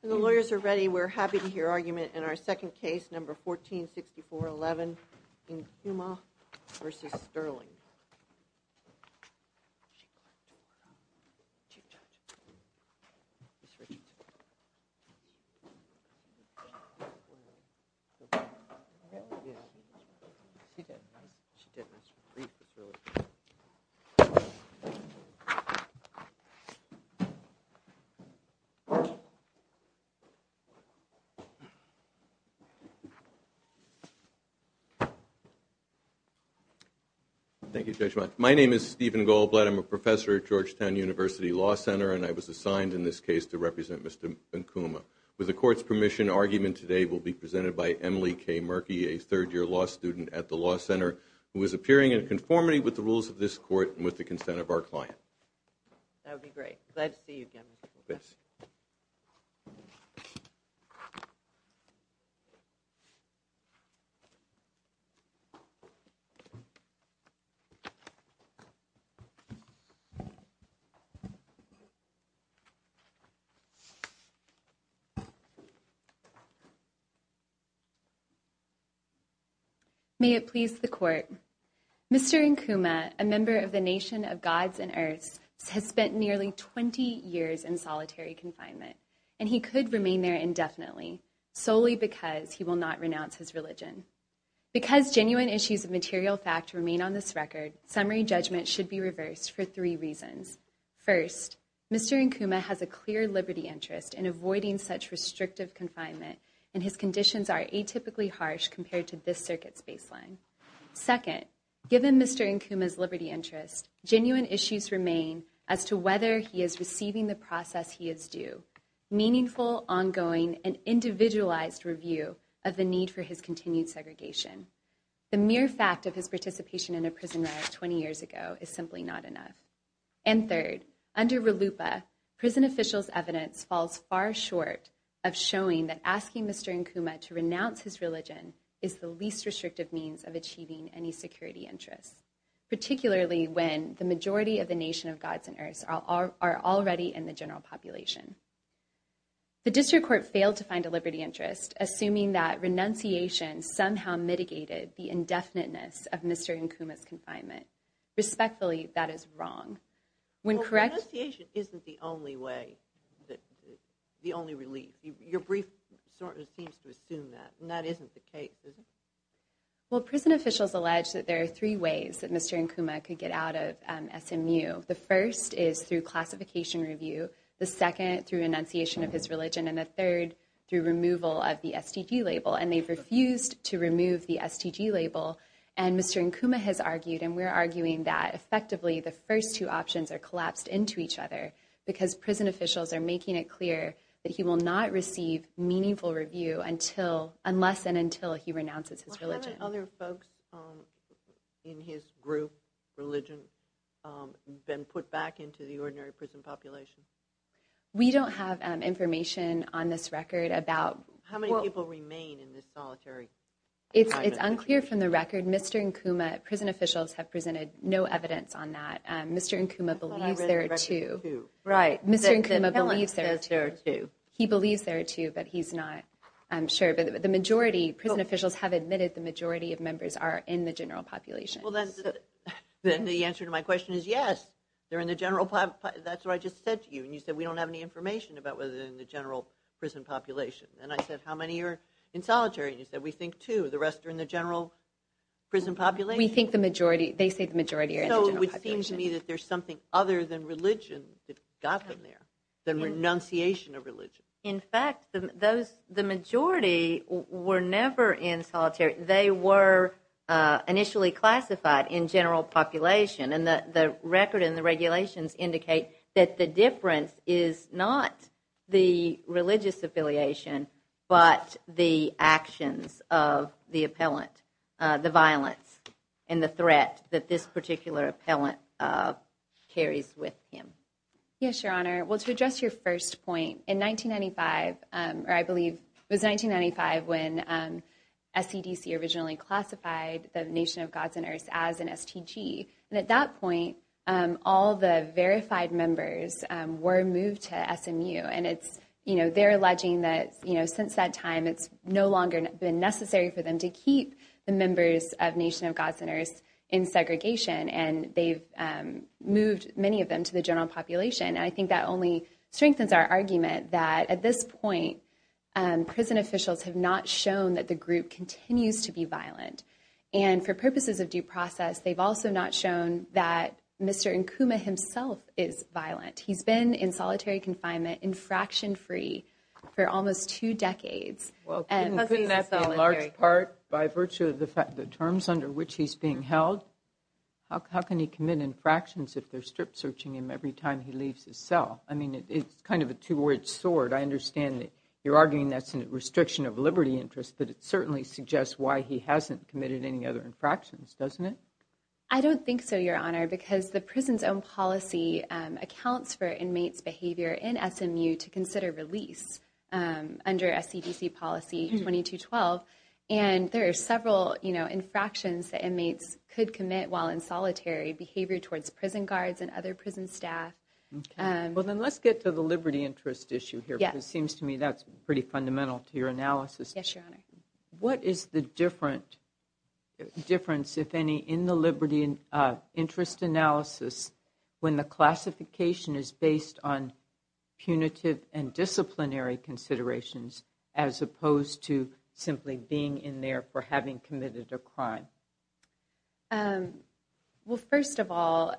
When the lawyers are ready, we're happy to hear argument in our second case, number 146411, Incumaa v. Stirling. Stephen Goldblatt My name is Stephen Goldblatt. I'm a professor at Georgetown University Law Center, and I was assigned in this case to represent Mr. Incumaa. With the court's permission, argument today will be presented by Emily K. Murky, a third-year law student at the Law Center, who is appearing in conformity with the rules of this court and with the consent of our client. Emily K. Murky That would be great. Glad to see you again, Mr. Goldblatt. Mr. Incumaa has spent nearly 20 years in solitary confinement, and he could remain there indefinitely, solely because he will not renounce his religion. Because genuine issues of material fact remain on this record, summary judgment should be reversed for three reasons. First, Mr. Incumaa has a clear liberty interest in avoiding such restrictive confinement, and his conditions are atypically harsh compared to this circuit's baseline. Second, given Mr. Incumaa's liberty interest, genuine issues remain as to whether he is receiving the process he is due, meaningful, ongoing, and individualized review of the need for his continued segregation. The mere fact of his participation in a prison riot 20 years ago is simply not enough. And third, under RLUIPA, prison officials' evidence falls far short of showing that asking Mr. Incumaa to renounce his religion is the least restrictive means of achieving any security interests, particularly when the majority of the Nation of Gods and Earths are already in the general population. The District Court failed to find a liberty interest, assuming that renunciation somehow mitigated the indefiniteness of Mr. Incumaa's confinement. Respectfully, that is wrong. Well, renunciation isn't the only way, the only relief. Your brief seems to assume that, and that isn't the case, is it? Well, prison officials allege that there are three ways that Mr. Incumaa could get out of SMU. The first is through classification review, the second through enunciation of his religion, and the third through removal of the STG label. And they've refused to remove the STG label. And Mr. Incumaa has argued, and we're arguing, that effectively the first two options are collapsed into each other because prison officials are making it clear that he will not receive meaningful review unless and until he renounces his religion. How many other folks in his group, religion, have been put back into the ordinary prison population? We don't have information on this record about... How many people remain in this solitary confinement? It's unclear from the record. Mr. Incumaa, prison officials have presented no evidence on that. Mr. Incumaa believes there are two. Right. Mr. Incumaa believes there are two. He believes there are two, but he's not sure. But the majority, prison officials have admitted the majority of members are in the general population. Well, then the answer to my question is yes, they're in the general population. That's what I just said to you. And you said we don't have any information about whether they're in the general prison population. And I said how many are in solitary? And you said we think two. The rest are in the general prison population. We think the majority, they say the majority are in the general population. It would seem to me that there's something other than religion that got them there, than renunciation of religion. In fact, the majority were never in solitary. They were initially classified in general population. And the record and the regulations indicate that the difference is not the religious affiliation, but the actions of the appellant, the violence and the threat that this particular appellant carries with him. Yes, Your Honor. Well, to address your first point, in 1995, or I believe it was 1995 when SCDC originally classified the Nation of Gods and Earths as an STG. And at that point, all the verified members were moved to SMU. And they're alleging that since that time, it's no longer been necessary for them to keep the members of Nation of Gods and Earths in segregation. And they've moved many of them to the general population. And I think that only strengthens our argument that at this point, prison officials have not shown that the group continues to be violent. And for purposes of due process, they've also not shown that Mr. Nkuma himself is violent. He's been in solitary confinement, infraction-free, for almost two decades. Well, couldn't that be in large part by virtue of the terms under which he's being held? How can he commit infractions if they're strip-searching him every time he leaves his cell? I mean, it's kind of a two-edged sword. I understand that you're arguing that's a restriction of liberty interest, but it certainly suggests why he hasn't committed any other infractions, doesn't it? I don't think so, Your Honor, because the prison's own policy accounts for inmates' behavior in SMU to consider release under SCDC policy 2212. And there are several infractions that inmates could commit while in solitary, behavior towards prison guards and other prison staff. Well, then let's get to the liberty interest issue here, because it seems to me that's pretty fundamental to your analysis. Yes, Your Honor. What is the difference, if any, in the liberty interest analysis when the classification is based on punitive and disciplinary considerations as opposed to simply being in there for having committed a crime? Well, first of all,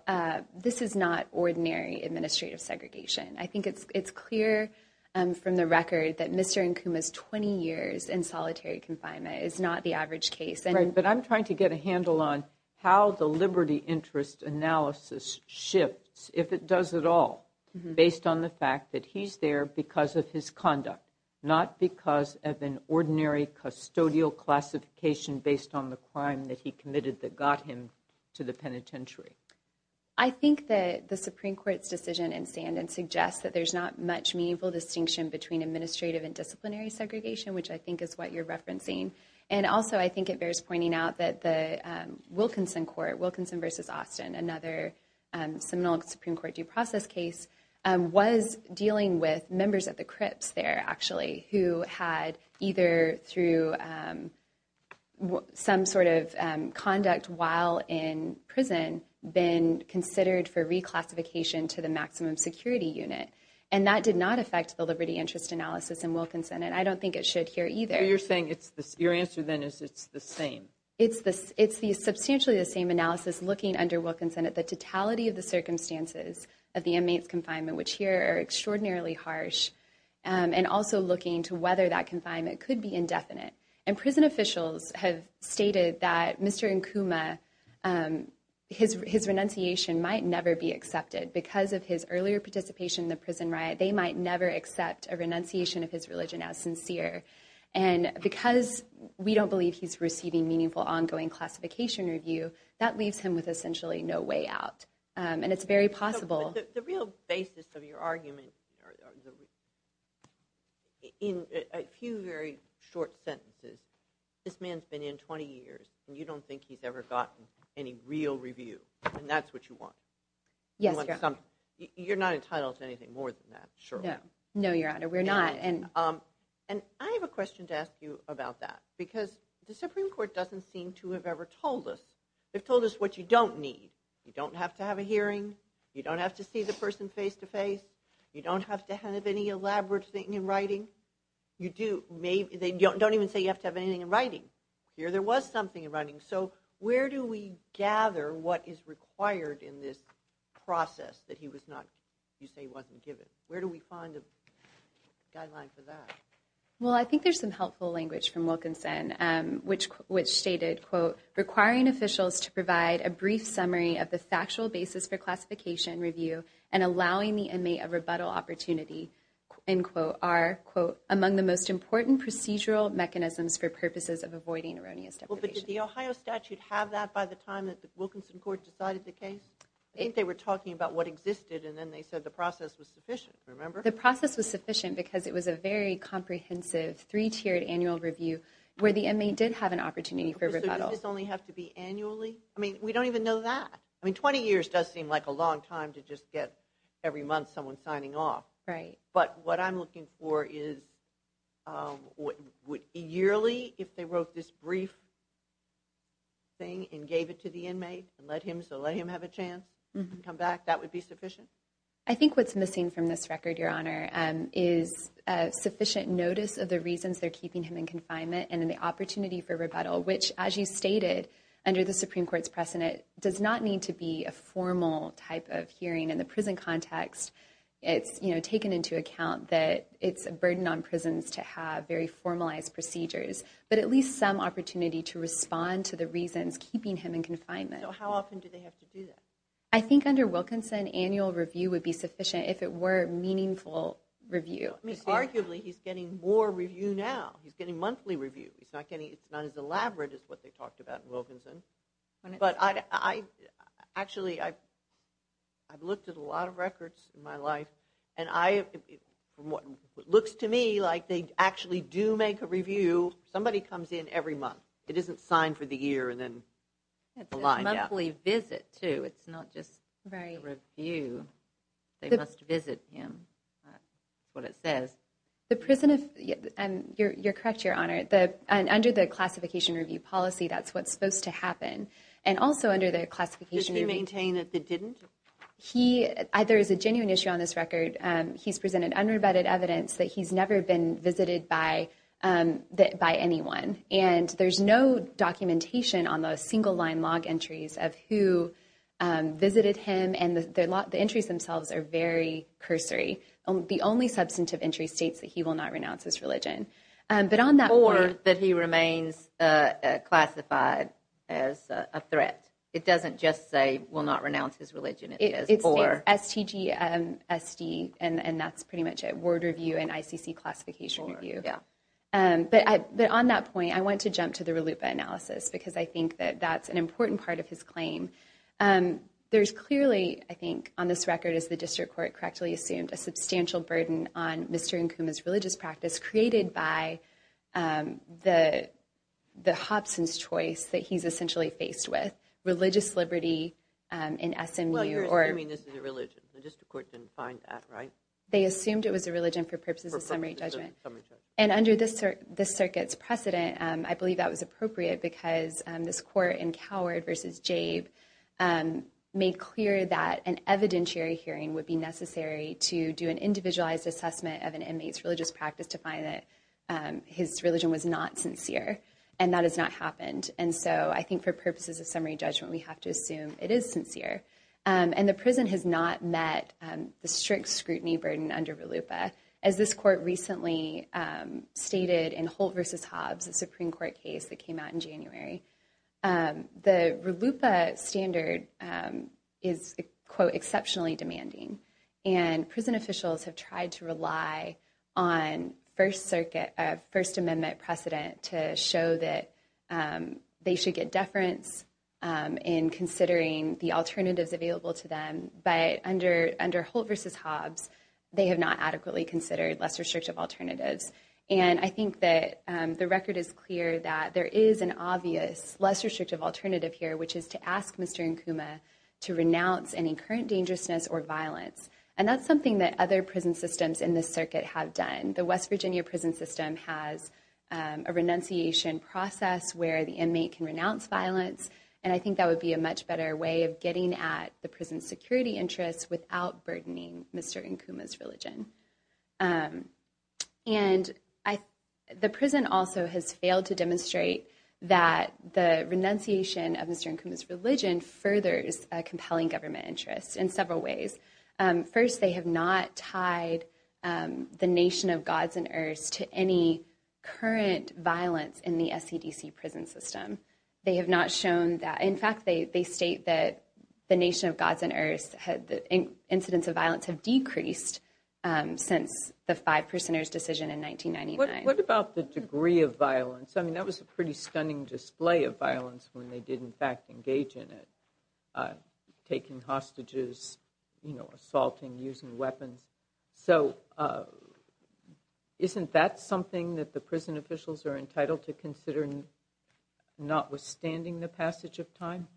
this is not ordinary administrative segregation. I think it's clear from the record that Mr. Nkuma's 20 years in solitary confinement is not the average case. Right, but I'm trying to get a handle on how the liberty interest analysis shifts, if it does at all, based on the fact that he's there because of his conduct, not because of an ordinary custodial classification based on the crime that he committed that got him to the penitentiary. I think that the Supreme Court's decision in Stanton suggests that there's not much meaningful distinction between administrative and disciplinary segregation, which I think is what you're referencing. And also, I think it bears pointing out that the Wilkinson Court, Wilkinson v. Austin, another seminal Supreme Court due process case, was dealing with members of the Crips there, actually, who had either through some sort of conduct while in prison been considered for reclassification to the maximum security unit. And that did not affect the liberty interest analysis in Wilkinson, and I don't think it should here either. So you're saying your answer, then, is it's the same? It's substantially the same analysis looking under Wilkinson at the totality of the circumstances of the inmate's confinement, which here are extraordinarily harsh, and also looking to whether that confinement could be indefinite. And prison officials have stated that Mr. Nkuma, his renunciation might never be accepted. Because of his earlier participation in the prison riot, they might never accept a renunciation of his religion as sincere. And because we don't believe he's receiving meaningful ongoing classification review, that leaves him with essentially no way out. But the real basis of your argument, in a few very short sentences, this man's been in 20 years, and you don't think he's ever gotten any real review, and that's what you want? Yes, Your Honor. You're not entitled to anything more than that, surely? No, Your Honor, we're not. And I have a question to ask you about that. Because the Supreme Court doesn't seem to have ever told us. They've told us what you don't need. You don't have to have a hearing. You don't have to see the person face-to-face. You don't have to have any elaborate thing in writing. You do. They don't even say you have to have anything in writing. Here there was something in writing. So where do we gather what is required in this process that he was not, you say, wasn't given? Where do we find a guideline for that? Well, I think there's some helpful language from Wilkinson, which stated, quote, requiring officials to provide a brief summary of the factual basis for classification review and allowing the inmate a rebuttal opportunity, end quote, are, quote, among the most important procedural mechanisms for purposes of avoiding erroneous deprivation. Well, but did the Ohio statute have that by the time that the Wilkinson court decided the case? I think they were talking about what existed, and then they said the process was sufficient. Remember? The process was sufficient because it was a very comprehensive, three-tiered annual review where the inmate did have an opportunity for rebuttal. So does this only have to be annually? I mean, we don't even know that. I mean, 20 years does seem like a long time to just get every month someone signing off. Right. But what I'm looking for is yearly, if they wrote this brief thing and gave it to the inmate and let him have a chance to come back, that would be sufficient? I think what's missing from this record, Your Honor, is sufficient notice of the reasons they're keeping him in confinement and the opportunity for rebuttal, which, as you stated, under the Supreme Court's precedent, does not need to be a formal type of hearing. In the prison context, it's taken into account that it's a burden on prisons to have very formalized procedures, but at least some opportunity to respond to the reasons keeping him in confinement. So how often do they have to do that? I think under Wilkinson, annual review would be sufficient if it were meaningful review. I mean, arguably, he's getting more review now. He's getting monthly review. It's not as elaborate as what they talked about in Wilkinson. Actually, I've looked at a lot of records in my life, and it looks to me like they actually do make a review. Somebody comes in every month. It isn't signed for the year and then lined up. It's a monthly visit, too. It's not just a review. They must visit him. That's what it says. You're correct, Your Honor. Under the classification review policy, that's what's supposed to happen. And also under the classification review policy… Did he maintain that they didn't? There is a genuine issue on this record. He's presented unrebutted evidence that he's never been visited by anyone, and there's no documentation on the single-line log entries of who visited him, and the entries themselves are very cursory. The only substantive entry states that he will not renounce his religion. Or that he remains classified as a threat. It doesn't just say, will not renounce his religion. It states STG, SD, and that's pretty much it. Word review and ICC classification review. But on that point, I want to jump to the RLUIPA analysis because I think that that's an important part of his claim. There's clearly, I think, on this record, as the district court correctly assumed, a substantial burden on Mr. Nkuma's religious practice, created by the Hobson's choice that he's essentially faced with. Religious liberty in SMU or… Well, you're assuming this is a religion. The district court didn't find that, right? They assumed it was a religion for purposes of summary judgment. And under this circuit's precedent, I believe that was appropriate because this court in Coward v. Jabe made clear that an evidentiary hearing would be necessary to do an individualized assessment of an inmate's religious practice to find that his religion was not sincere. And that has not happened. And so I think for purposes of summary judgment, we have to assume it is sincere. And the prison has not met the strict scrutiny burden under RLUIPA. As this court recently stated in Holt v. Hobbs, a Supreme Court case that came out in January, the RLUIPA standard is, quote, exceptionally demanding. And prison officials have tried to rely on First Circuit, First Amendment precedent to show that they should get deference in considering the alternatives available to them. But under Holt v. Hobbs, they have not adequately considered lesser restrictive alternatives. And I think that the record is clear that there is an obvious lesser restrictive alternative here, which is to ask Mr. Nkuma to renounce any current dangerousness or violence. And that's something that other prison systems in this circuit have done. The West Virginia prison system has a renunciation process where the inmate can renounce violence. And I think that would be a much better way of getting at the prison's security interests without burdening Mr. Nkuma's religion. And the prison also has failed to demonstrate that the renunciation of Mr. Nkuma's religion furthers a compelling government interest in several ways. First, they have not tied the nation of gods and earths to any current violence in the SCDC prison system. They have not shown that. In fact, they state that the nation of gods and earths, the incidence of violence has decreased since the Five Percenters decision in 1999. What about the degree of violence? I mean, that was a pretty stunning display of violence when they did, in fact, engage in it, taking hostages, assaulting, using weapons. So isn't that something that the prison officials are entitled to consider, notwithstanding the passage of time?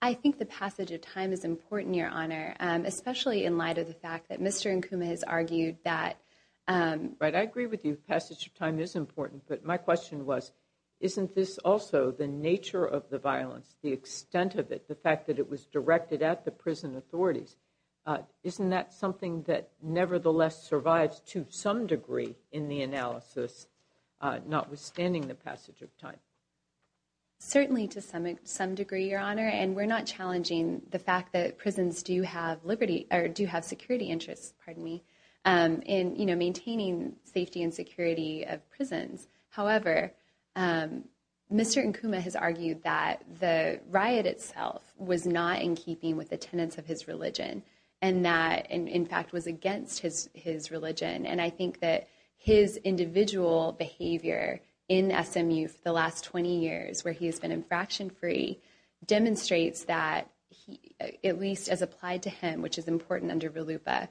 I think the passage of time is important, Your Honor, especially in light of the fact that Mr. Nkuma has argued that Right, I agree with you. Passage of time is important. But my question was, isn't this also the nature of the violence, the extent of it, the fact that it was directed at the prison authorities? Isn't that something that nevertheless survives to some degree in the analysis, notwithstanding the passage of time? Certainly to some degree, Your Honor. And we're not challenging the fact that prisons do have security interests in maintaining safety and security of prisons. However, Mr. Nkuma has argued that the riot itself was not in keeping with the tenets of his religion, and that, in fact, was against his religion. And I think that his individual behavior in SMU for the last 20 years, where he has been infraction-free, demonstrates that, at least as applied to him, which is important under RLUIPA,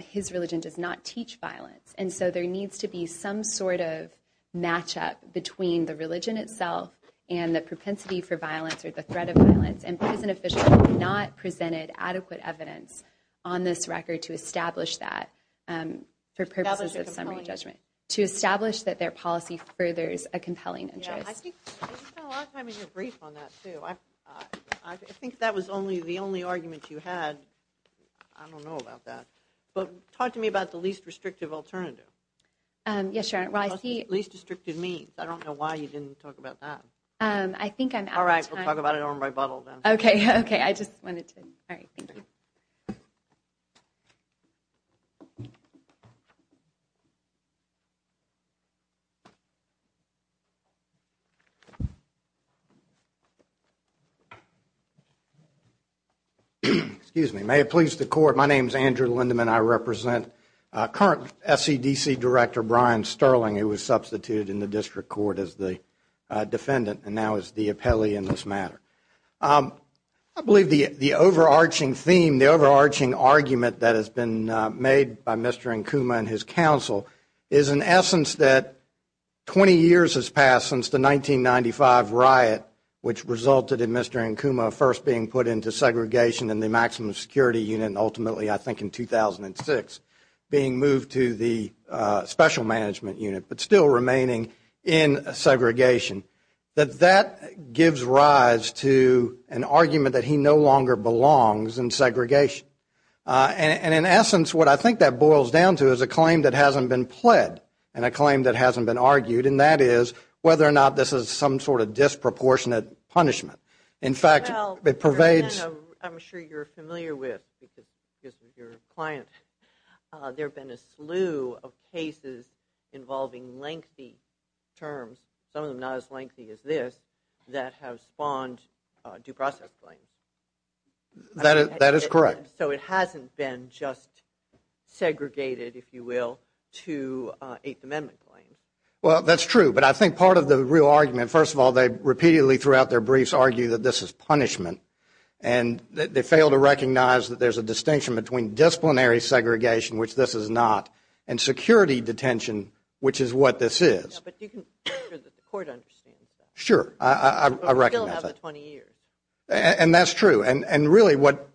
his religion does not teach violence. And so there needs to be some sort of matchup between the religion itself and the propensity for violence or the threat of violence. And prison officials have not presented adequate evidence on this record to establish that for purposes of summary judgment, to establish that their policy furthers a compelling interest. I spent a lot of time in your brief on that, too. I think that was the only argument you had. I don't know about that. But talk to me about the least restrictive alternative. Yes, Your Honor. The least restrictive means. I don't know why you didn't talk about that. I think I'm out of time. All right. We'll talk about it on rebuttal then. Okay. Okay. I just wanted to. All right. Thank you. Excuse me. May it please the Court, my name is Andrew Lindeman. I represent current SEDC Director Brian Sterling, who was substituted in the District Court as the defendant and now is the appellee in this matter. I believe the overarching theme, the overarching argument that has been made by Mr. Nkuma and his counsel is an essence that 20 years has passed since the 1995 riot which resulted in Mr. Nkuma first being put into segregation in the maximum security unit and ultimately I think in 2006 being moved to the special management unit but still remaining in segregation, that that gives rise to an argument that he no longer belongs in segregation. And in essence, what I think that boils down to is a claim that hasn't been pled and a claim that hasn't been argued, and that is whether or not this is some sort of disproportionate punishment. In fact, it pervades. I'm sure you're familiar with because of your client. There have been a slew of cases involving lengthy terms, some of them not as lengthy as this, that have spawned due process claims. That is correct. So it hasn't been just segregated, if you will, to Eighth Amendment claims. Well, that's true. But I think part of the real argument, first of all, they repeatedly throughout their briefs argue that this is punishment and that they fail to recognize that there's a distinction between disciplinary segregation, which this is not, and security detention, which is what this is. Yeah, but you can make sure that the court understands that. Sure. I recognize that. But we still have the 20 years. And that's true. And really what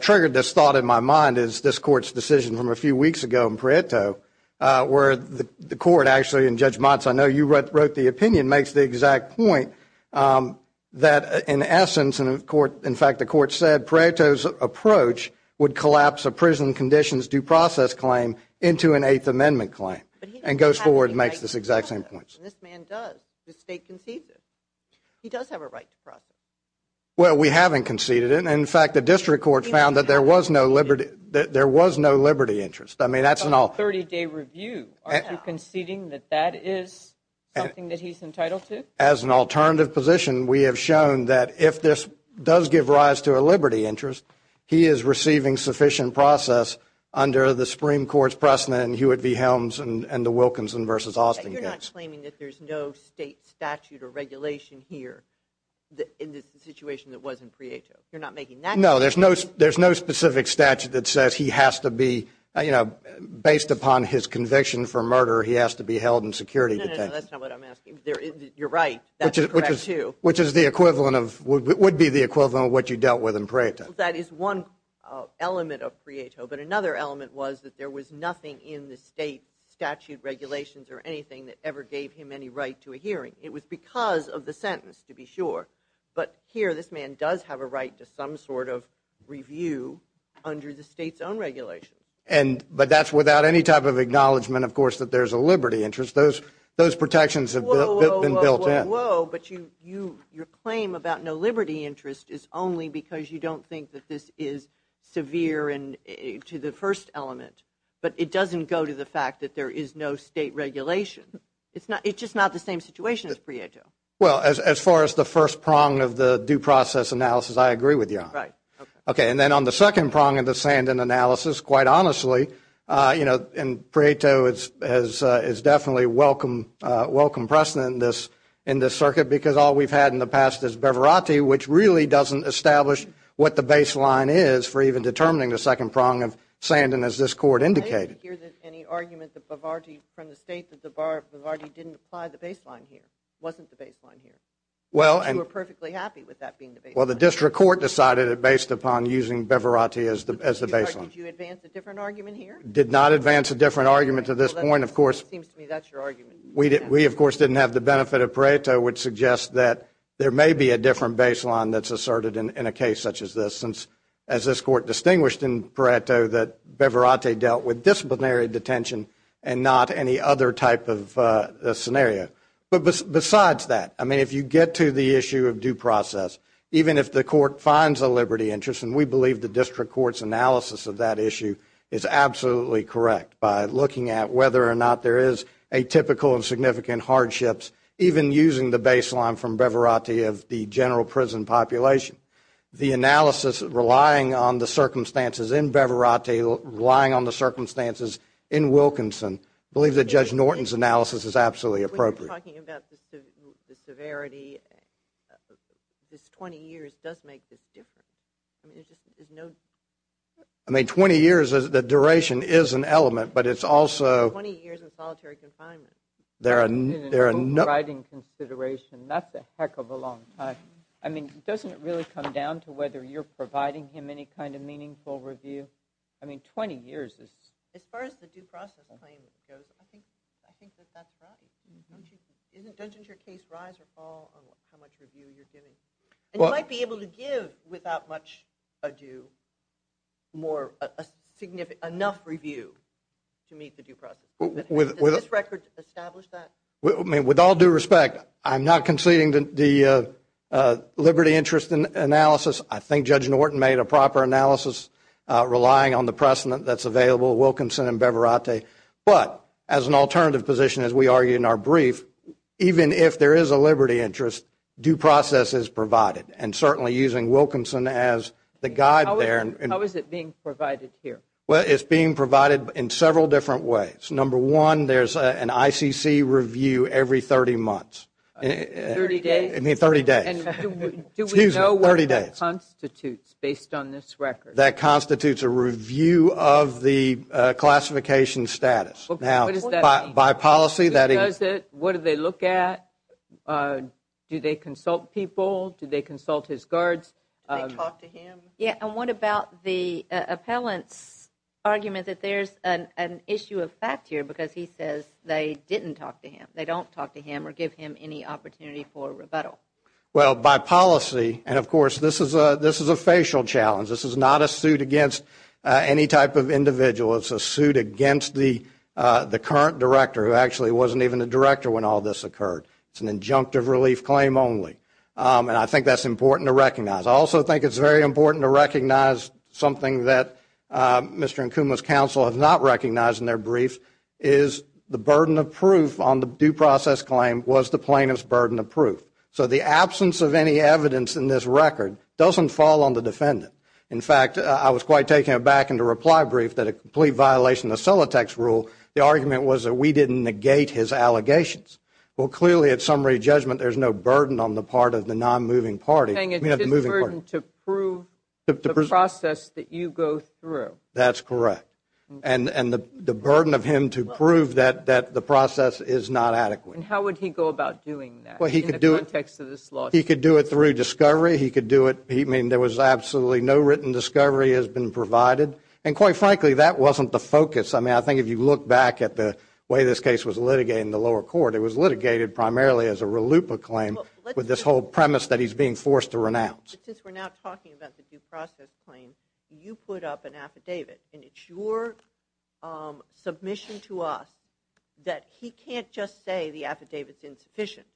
triggered this thought in my mind is this Court's decision from a few weeks ago in Pareto where the court actually, and Judge Motz, I know you wrote the opinion, makes the exact point that in essence, in fact the court said Pareto's approach would collapse a prison conditions due process claim into an Eighth Amendment claim and goes forward and makes this exact same point. This man does. The state concedes it. He does have a right to process. Well, we haven't conceded it. In fact, the district court found that there was no liberty interest. I mean, that's an all. It's a 30-day review. Aren't you conceding that that is something that he's entitled to? As an alternative position, we have shown that if this does give rise to a liberty interest, he is receiving sufficient process under the Supreme Court's precedent, Hewitt v. Helms and the Wilkinson v. Austin case. You're not claiming that there's no state statute or regulation here in the situation that was in Pareto. You're not making that claim? No, there's no specific statute that says he has to be, you know, based upon his conviction for murder, he has to be held in security detention. No, no, no, that's not what I'm asking. You're right. That's correct, too. Which is the equivalent of, would be the equivalent of what you dealt with in Pareto. That is one element of Pareto, but another element was that there was nothing in the state statute regulations or anything that ever gave him any right to a hearing. It was because of the sentence, to be sure. But here, this man does have a right to some sort of review under the state's own regulation. But that's without any type of acknowledgment, of course, that there's a liberty interest. Those protections have been built in. Whoa, whoa, whoa, whoa, but your claim about no liberty interest is only because you don't think that this is severe to the first element, but it doesn't go to the fact that there is no state regulation. It's just not the same situation as Pareto. Well, as far as the first prong of the due process analysis, I agree with you on that. Right. Okay, and then on the second prong of the Sandin analysis, quite honestly, you know, in Pareto it's definitely a welcome precedent in this circuit because all we've had in the past is Bevarati, which really doesn't establish what the baseline is for even determining the second prong of Sandin, as this court indicated. I didn't hear any argument from the state that Bevarati didn't apply the baseline here. It wasn't the baseline here. You were perfectly happy with that being the baseline. Well, the district court decided it based upon using Bevarati as the baseline. Did you advance a different argument here? Did not advance a different argument to this point, of course. It seems to me that's your argument. We, of course, didn't have the benefit of Pareto, which suggests that there may be a different baseline that's asserted in a case such as this, as this court distinguished in Pareto that Bevarati dealt with disciplinary detention and not any other type of scenario. But besides that, I mean, if you get to the issue of due process, even if the court finds a liberty interest, and we believe the district court's analysis of that issue is absolutely correct by looking at whether or not there is atypical and significant hardships, even using the baseline from Bevarati of the general prison population. The analysis relying on the circumstances in Bevarati, relying on the circumstances in Wilkinson, I believe that Judge Norton's analysis is absolutely appropriate. When you're talking about the severity, this 20 years does make this different. I mean, there's just no... I mean, 20 years, the duration is an element, but it's also... 20 years in solitary confinement. There are no... In an overriding consideration. That's a heck of a long time. I mean, doesn't it really come down to whether you're providing him any kind of meaningful review? I mean, 20 years is... As far as the due process claim goes, I think that that's right. Doesn't your case rise or fall on how much review you're giving? And you might be able to give, without much ado, enough review to meet the due process. Does this record establish that? With all due respect, I'm not conceding the liberty interest analysis. I think Judge Norton made a proper analysis relying on the precedent that's available, Wilkinson and Bevarati. But as an alternative position, as we argue in our brief, even if there is a liberty interest, due process is provided, and certainly using Wilkinson as the guide there. How is it being provided here? Well, it's being provided in several different ways. Number one, there's an ICC review every 30 months. 30 days? I mean, 30 days. 30 days. And do we know what that constitutes based on this record? That constitutes a review of the classification status. Now, by policy, that is... Who does it? What do they look at? Do they consult people? Do they consult his guards? Do they talk to him? Yeah, and what about the appellant's argument that there's an issue of fact here because he says they didn't talk to him, they don't talk to him or give him any opportunity for rebuttal? Well, by policy, and of course this is a facial challenge, this is not a suit against any type of individual. It's a suit against the current director who actually wasn't even a director when all this occurred. It's an injunctive relief claim only. And I think that's important to recognize. I also think it's very important to recognize something that Mr. Nkuma's counsel has not recognized in their briefs is the burden of proof on the due process claim was the plaintiff's burden of proof. So the absence of any evidence in this record doesn't fall on the defendant. In fact, I was quite taken aback in the reply brief that a complete violation of Silatech's rule, the argument was that we didn't negate his allegations. Well, clearly at summary judgment, there's no burden on the part of the non-moving party. You're saying it's his burden to prove the process that you go through. That's correct. And the burden of him to prove that the process is not adequate. And how would he go about doing that in the context of this lawsuit? He could do it through discovery. I mean, there was absolutely no written discovery has been provided. And quite frankly, that wasn't the focus. I mean, I think if you look back at the way this case was litigated in the lower court, it was litigated primarily as a RLUIPA claim with this whole premise that he's being forced to renounce. But since we're now talking about the due process claim, you put up an affidavit, and it's your submission to us that he can't just say the affidavit's insufficient.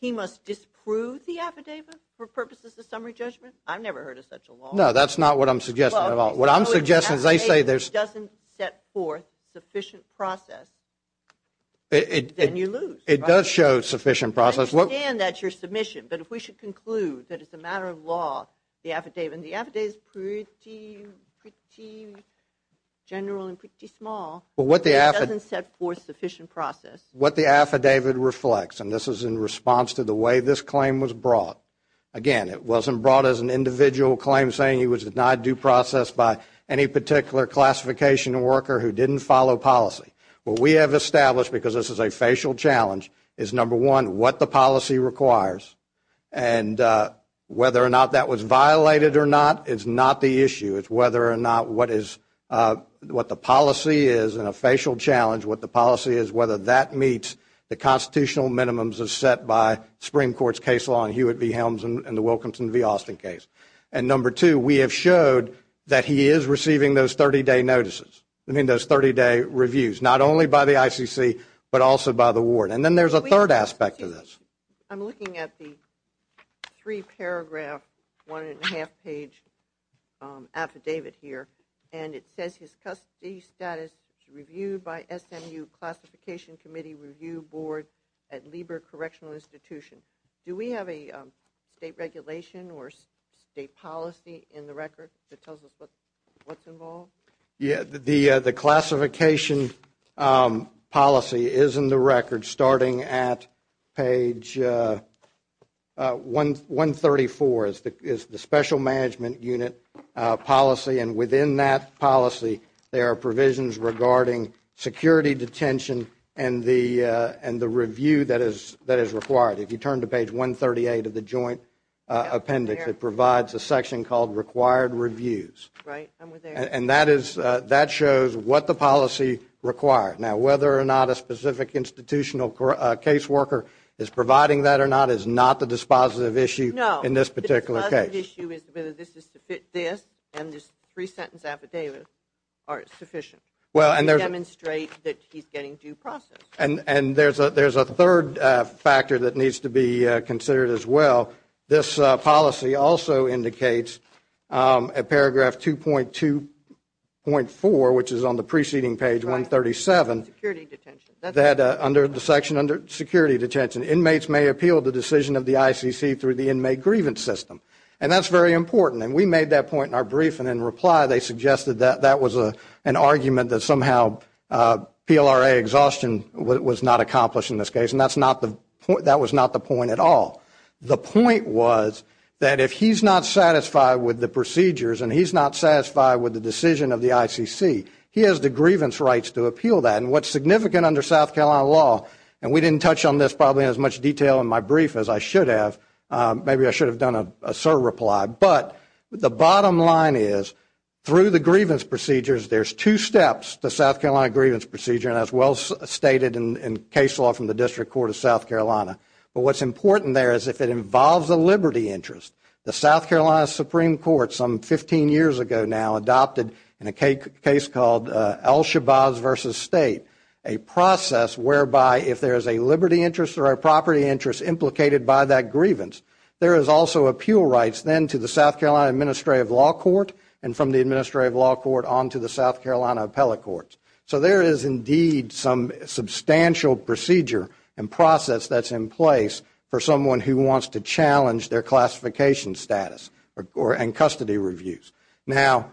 He must disprove the affidavit for purposes of summary judgment? I've never heard of such a law. No, that's not what I'm suggesting at all. If the affidavit doesn't set forth sufficient process, then you lose. It does show sufficient process. I understand that's your submission, but if we should conclude that it's a matter of law, the affidavit, and the affidavit is pretty general and pretty small, but it doesn't set forth sufficient process. What the affidavit reflects, and this is in response to the way this claim was brought, again, it wasn't brought as an individual claim saying he was denied due process by any particular classification worker who didn't follow policy. What we have established, because this is a facial challenge, is, number one, what the policy requires, and whether or not that was violated or not is not the issue. It's whether or not what the policy is in a facial challenge, what the policy is, whether that meets the constitutional minimums set by Supreme Court's case law in Hewitt v. Helms and the Wilkinson v. Austin case. And number two, we have showed that he is receiving those 30-day notices, I mean those 30-day reviews, not only by the ICC but also by the ward. And then there's a third aspect to this. I'm looking at the three-paragraph, one-and-a-half-page affidavit here, and it says his custody status is reviewed by SMU Classification Committee Review Board at Lieber Correctional Institution. Do we have a state regulation or state policy in the record that tells us what's involved? The classification policy is in the record, starting at page 134, is the Special Management Unit policy, and within that policy there are provisions regarding security detention and the review that is required. If you turn to page 138 of the joint appendix, it provides a section called required reviews. And that shows what the policy requires. Now, whether or not a specific institutional caseworker is providing that or not is not the dispositive issue in this particular case. The issue is whether this is to fit this and this three-sentence affidavit are sufficient to demonstrate that he's getting due process. And there's a third factor that needs to be considered as well. This policy also indicates at paragraph 2.2.4, which is on the preceding page, 137, that under the section under security detention, inmates may appeal the decision of the ICC through the inmate grievance system. And that's very important. And we made that point in our brief, and in reply they suggested that that was an argument that somehow PLRA exhaustion was not accomplished in this case. And that was not the point at all. The point was that if he's not satisfied with the procedures and he's not satisfied with the decision of the ICC, he has the grievance rights to appeal that. And what's significant under South Carolina law, and we didn't touch on this probably in as much detail in my brief as I should have, maybe I should have done a sir reply, but the bottom line is through the grievance procedures, there's two steps to South Carolina grievance procedure, and that's well stated in case law from the District Court of South Carolina. But what's important there is if it involves a liberty interest, the South Carolina Supreme Court some 15 years ago now adopted, in a case called El Shabazz v. State, a process whereby if there is a liberty interest or a property interest implicated by that grievance, there is also appeal rights then to the South Carolina Administrative Law Court and from the Administrative Law Court on to the South Carolina Appellate Courts. So there is indeed some substantial procedure and process that's in place for someone who wants to challenge their classification status and custody reviews. Now,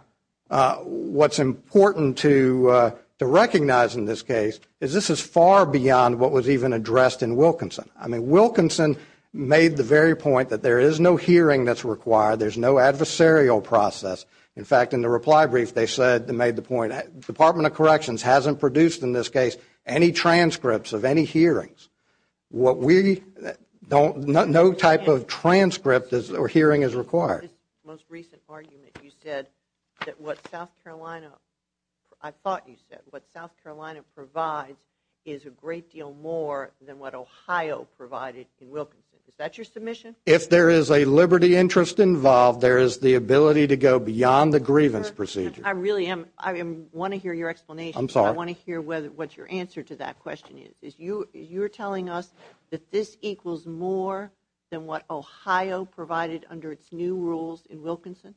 what's important to recognize in this case is this is far beyond what was even addressed in Wilkinson. I mean, Wilkinson made the very point that there is no hearing that's required, there's no adversarial process. In fact, in the reply brief they said, they made the point the Department of Corrections hasn't produced in this case any transcripts of any hearings. What we, no type of transcript or hearing is required. In your most recent argument you said that what South Carolina, I thought you said what South Carolina provides is a great deal more than what Ohio provided in Wilkinson. Is that your submission? If there is a liberty interest involved, there is the ability to go beyond the grievance procedure. I really am, I want to hear your explanation. I'm sorry. I want to hear what your answer to that question is. You're telling us that this equals more than what Ohio provided under its new rules in Wilkinson?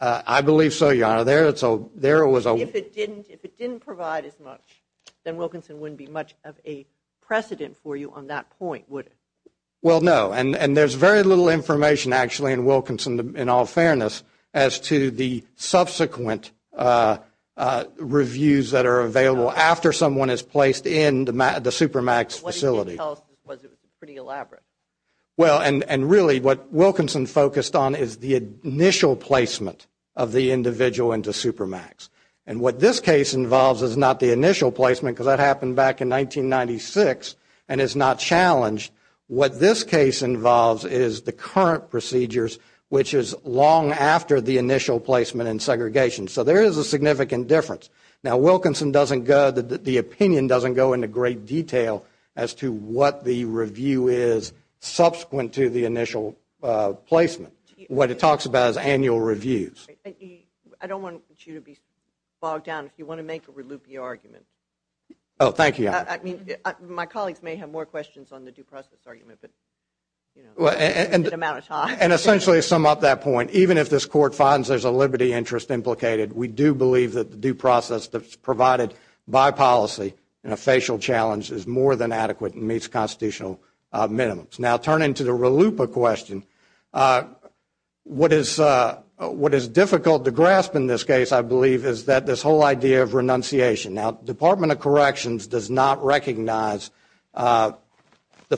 I believe so, Your Honor. If it didn't provide as much, then Wilkinson wouldn't be much of a precedent for you on that point, would it? Well, no. And there's very little information actually in Wilkinson, in all fairness, as to the subsequent reviews that are available after someone is placed in the Supermax facility. What did you tell us was pretty elaborate? Well, and really what Wilkinson focused on is the initial placement of the individual into Supermax. And what this case involves is not the initial placement, because that happened back in 1996 and is not challenged. What this case involves is the current procedures, which is long after the initial placement and segregation. So there is a significant difference. Now, the opinion doesn't go into great detail as to what the review is subsequent to the initial placement. What it talks about is annual reviews. I don't want you to be bogged down if you want to make a loopy argument. Oh, thank you, Your Honor. I mean, my colleagues may have more questions on the due process argument, but, you know, in the amount of time. And essentially to sum up that point, even if this Court finds there's a liberty interest implicated, we do believe that the due process that's provided by policy in a facial challenge is more than adequate and meets constitutional minimums. Now, turning to the RLUIPA question, what is difficult to grasp in this case, I believe, is that this whole idea of renunciation. Now, the Department of Corrections does not recognize the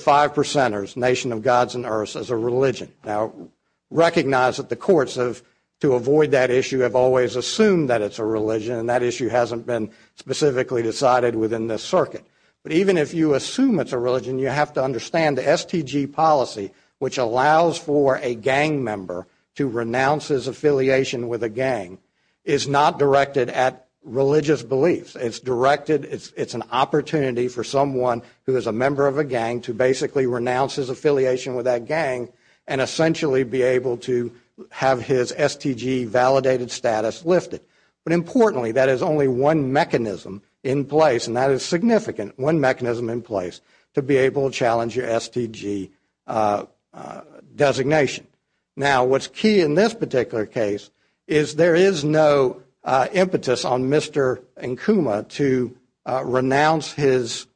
five percenters, Nation of Gods and Earths, as a religion. Now, recognize that the courts, to avoid that issue, have always assumed that it's a religion, and that issue hasn't been specifically decided within this circuit. But even if you assume it's a religion, you have to understand the STG policy, which allows for a gang member to renounce his affiliation with a gang, is not directed at religious beliefs. It's directed, it's an opportunity for someone who is a member of a gang to basically renounce his affiliation with that gang and essentially be able to have his STG validated status lifted. But importantly, that is only one mechanism in place, and that is significant, one mechanism in place to be able to challenge your STG designation. Now, what's key in this particular case is there is no impetus on Mr. Nkuma to renounce his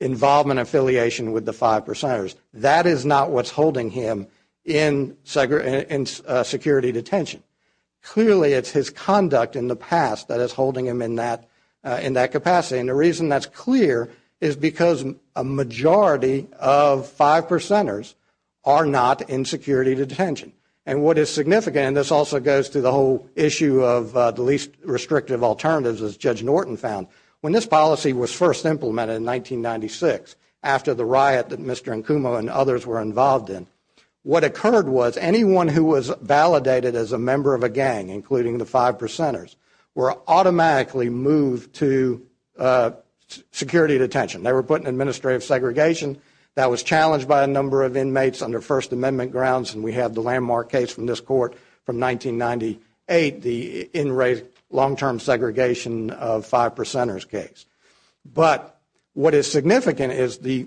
involvement and affiliation with the five percenters. That is not what's holding him in security detention. Clearly, it's his conduct in the past that is holding him in that capacity, and the reason that's clear is because a majority of five percenters are not in security detention. And what is significant, and this also goes to the whole issue of the least restrictive alternatives, as Judge Norton found, when this policy was first implemented in 1996, after the riot that Mr. Nkuma and others were involved in, what occurred was anyone who was validated as a member of a gang, including the five percenters, were automatically moved to security detention. They were put in administrative segregation. That was challenged by a number of inmates under First Amendment grounds, and we have the landmark case from this Court from 1998, the in-rate long-term segregation of five percenters case. But what is significant is the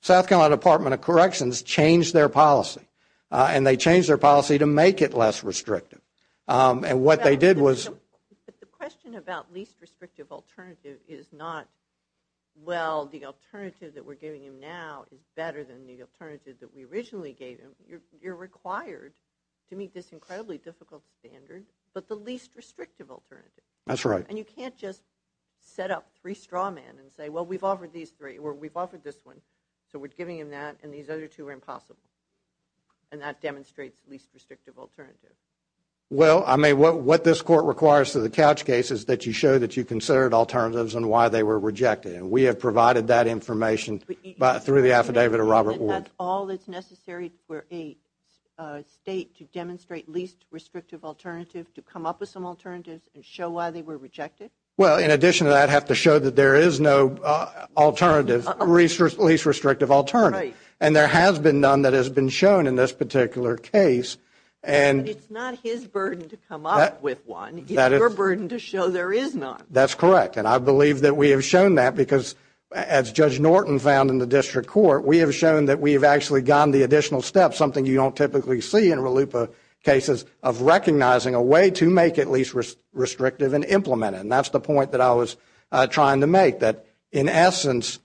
South Carolina Department of Corrections changed their policy, and they changed their policy to make it less restrictive. And what they did was— But the question about least restrictive alternative is not, well, the alternative that we're giving him now is better than the alternative that we originally gave him. You're required to meet this incredibly difficult standard, but the least restrictive alternative. That's right. And you can't just set up three straw men and say, well, we've offered this one, so we're giving him that, and these other two are impossible. And that demonstrates least restrictive alternative. Well, I mean, what this Court requires to the Couch case is that you show that you considered alternatives and why they were rejected, and we have provided that information through the affidavit of Robert Ward. And that's all that's necessary for a state to demonstrate least restrictive alternative, to come up with some alternatives and show why they were rejected? Well, in addition to that, have to show that there is no alternative, least restrictive alternative. And there has been none that has been shown in this particular case. But it's not his burden to come up with one. It's your burden to show there is none. That's correct. And I believe that we have shown that because, as Judge Norton found in the district court, we have shown that we have actually gone the additional step, something you don't typically see in RLUIPA cases, of recognizing a way to make it least restrictive and implement it. And that's the point that I was trying to make, that in essence,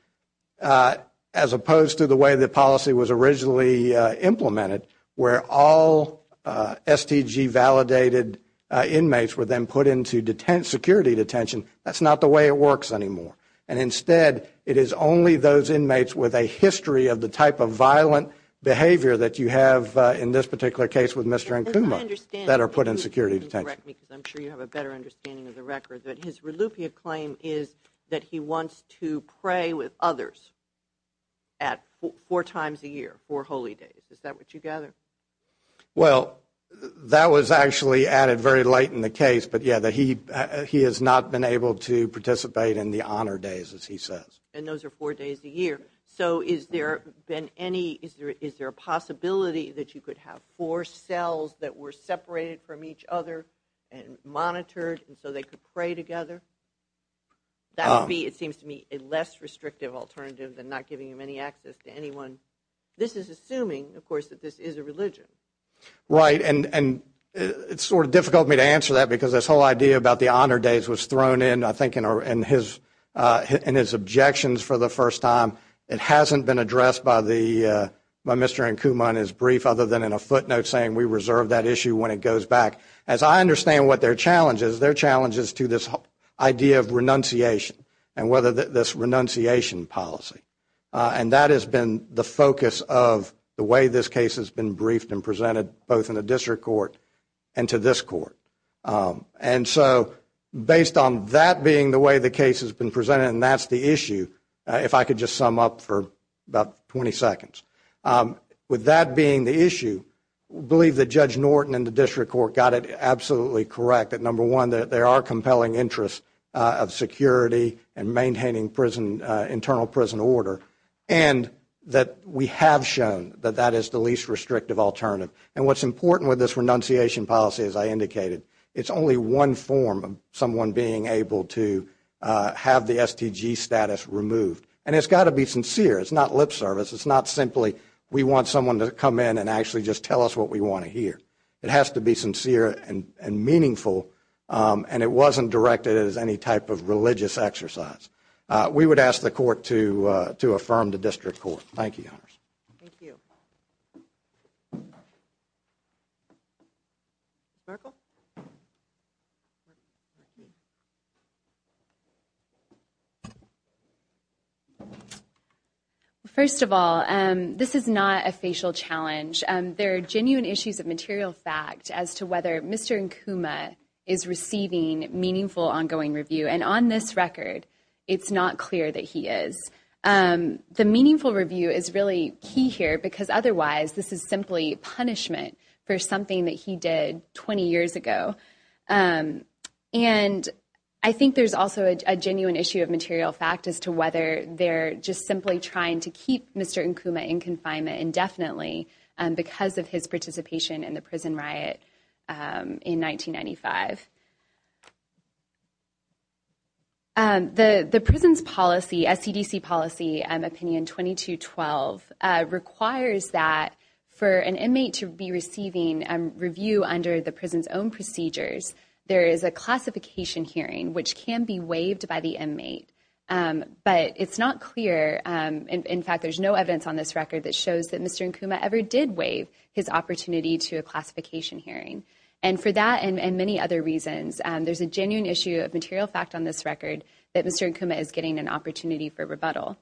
as opposed to the way the policy was originally implemented, where all STG-validated inmates were then put into security detention, that's not the way it works anymore. And instead, it is only those inmates with a history of the type of violent behavior that you have, in this particular case with Mr. Nkuma, that are put in security detention. Correct me, because I'm sure you have a better understanding of the record. But his RLUIPA claim is that he wants to pray with others four times a year, four holy days. Is that what you gather? Well, that was actually added very late in the case. But, yeah, he has not been able to participate in the honor days, as he says. And those are four days a year. So is there a possibility that you could have four cells that were separated from each other and monitored, and so they could pray together? That would be, it seems to me, a less restrictive alternative than not giving them any access to anyone. This is assuming, of course, that this is a religion. Right. And it's sort of difficult for me to answer that, because this whole idea about the honor days was thrown in, I think, in his objections for the first time. It hasn't been addressed by Mr. Nkuma in his brief other than in a footnote saying, we reserve that issue when it goes back. As I understand what their challenge is, their challenge is to this idea of renunciation and whether this renunciation policy. And that has been the focus of the way this case has been briefed and presented both in the district court and to this court. And so based on that being the way the case has been presented, and that's the issue, if I could just sum up for about 20 seconds. With that being the issue, I believe that Judge Norton and the district court got it absolutely correct that, number one, there are compelling interests of security and maintaining prison, internal prison order, and that we have shown that that is the least restrictive alternative. And what's important with this renunciation policy, as I indicated, it's only one form of someone being able to have the STG status removed. And it's got to be sincere. It's not lip service. It's not simply we want someone to come in and actually just tell us what we want to hear. It has to be sincere and meaningful, and it wasn't directed as any type of religious exercise. We would ask the court to affirm the district court. Thank you. Thank you. Markle? First of all, this is not a facial challenge. There are genuine issues of material fact as to whether Mr. Nkuma is receiving meaningful ongoing review, and on this record, it's not clear that he is. The meaningful review is really key here because, otherwise, this is simply punishment for something that he did 20 years ago. And I think there's also a genuine issue of material fact as to whether they're just simply trying to keep Mr. Nkuma in confinement indefinitely because of his participation in the prison riot in 1995. The prison's policy, SCDC policy opinion 2212, requires that for an inmate to be receiving review under the prison's own procedures, there is a classification hearing, which can be waived by the inmate. But it's not clear. In fact, there's no evidence on this record that shows that Mr. Nkuma ever did waive his opportunity to a classification hearing. And for that and many other reasons, there's a genuine issue of material fact on this record that Mr. Nkuma is getting an opportunity for rebuttal.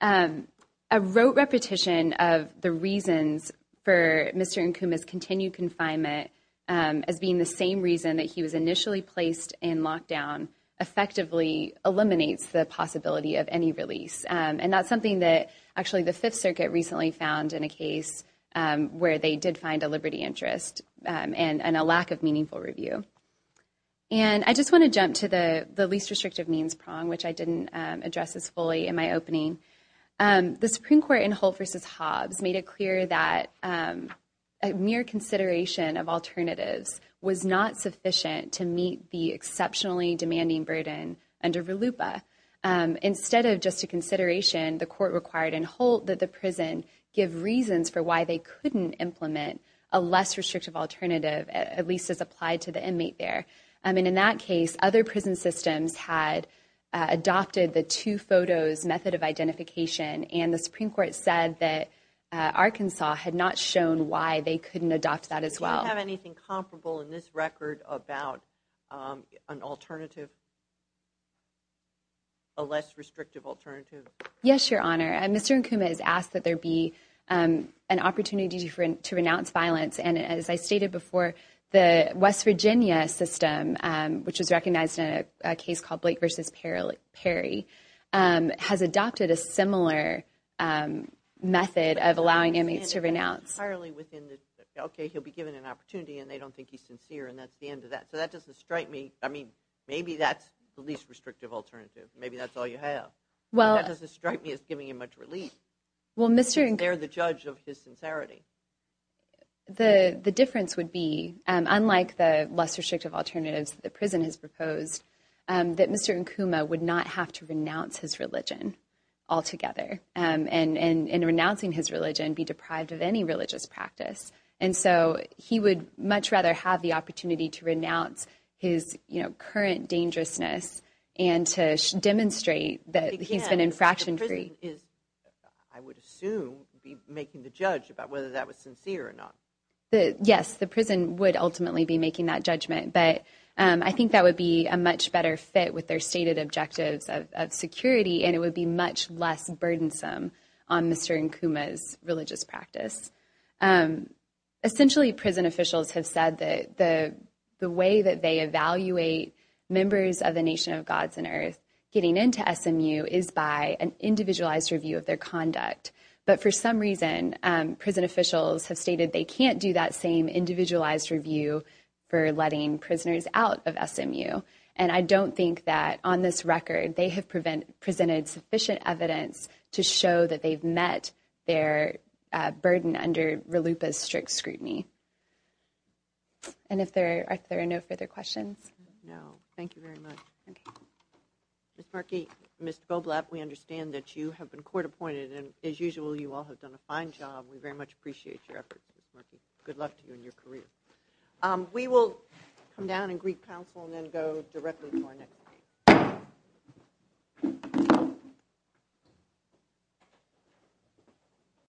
A rote repetition of the reasons for Mr. Nkuma's continued confinement as being the same reason that he was initially placed in lockdown, effectively eliminates the possibility of any release. And that's something that actually the Fifth Circuit recently found in a case where they did find a liberty interest and a lack of meaningful review. And I just want to jump to the least restrictive means prong, which I didn't address as fully in my opening. The Supreme Court in Hull versus Hobbs made it clear that a mere consideration of alternatives was not sufficient to meet the court required in Holt that the prison give reasons for why they couldn't implement a less restrictive alternative, at least as applied to the inmate there. I mean, in that case, other prison systems had adopted the two photos method of identification. And the Supreme Court said that Arkansas had not shown why they couldn't adopt that as well. I don't have anything comparable in this record about an alternative. A less restrictive alternative. Yes, Your Honor. And Mr. Nkuma has asked that there be an opportunity to renounce violence. And as I stated before, the West Virginia system, which is recognized in a case called Blake versus Perry, has adopted a similar method of allowing inmates to renounce. Okay, he'll be given an opportunity and they don't think he's sincere and that's the end of that. So that doesn't strike me. I mean, maybe that's the least restrictive alternative. Maybe that's all you have. That doesn't strike me as giving him much relief. They're the judge of his sincerity. The difference would be, unlike the less restrictive alternatives the prison has proposed, that Mr. Nkuma would not have to renounce his religion altogether. And in renouncing his religion, be deprived of any religious practice. And so he would much rather have the opportunity to renounce his current dangerousness and to demonstrate that he's been infraction-free. The prison is, I would assume, making the judge about whether that was sincere or not. Yes, the prison would ultimately be making that judgment. But I think that would be a much better fit with their stated objectives of security and it would be much less burdensome on Mr. Nkuma's religious practice. Essentially, prison officials have said that the way that they evaluate members of the Nation of Gods and Earth getting into SMU is by an individualized review of their conduct. But for some reason, prison officials have stated they can't do that same individualized review for letting prisoners out of SMU. And I don't think that, on this record, they have presented sufficient evidence to show that they've met their burden under RLUIPA's strict scrutiny. And are there no further questions? No. Thank you very much. Ms. Markey, Ms. Goblek, we understand that you have been court-appointed, and as usual, you all have done a fine job. We very much appreciate your efforts. Good luck to you in your career. We will come down and greet counsel and then go directly to our next speaker.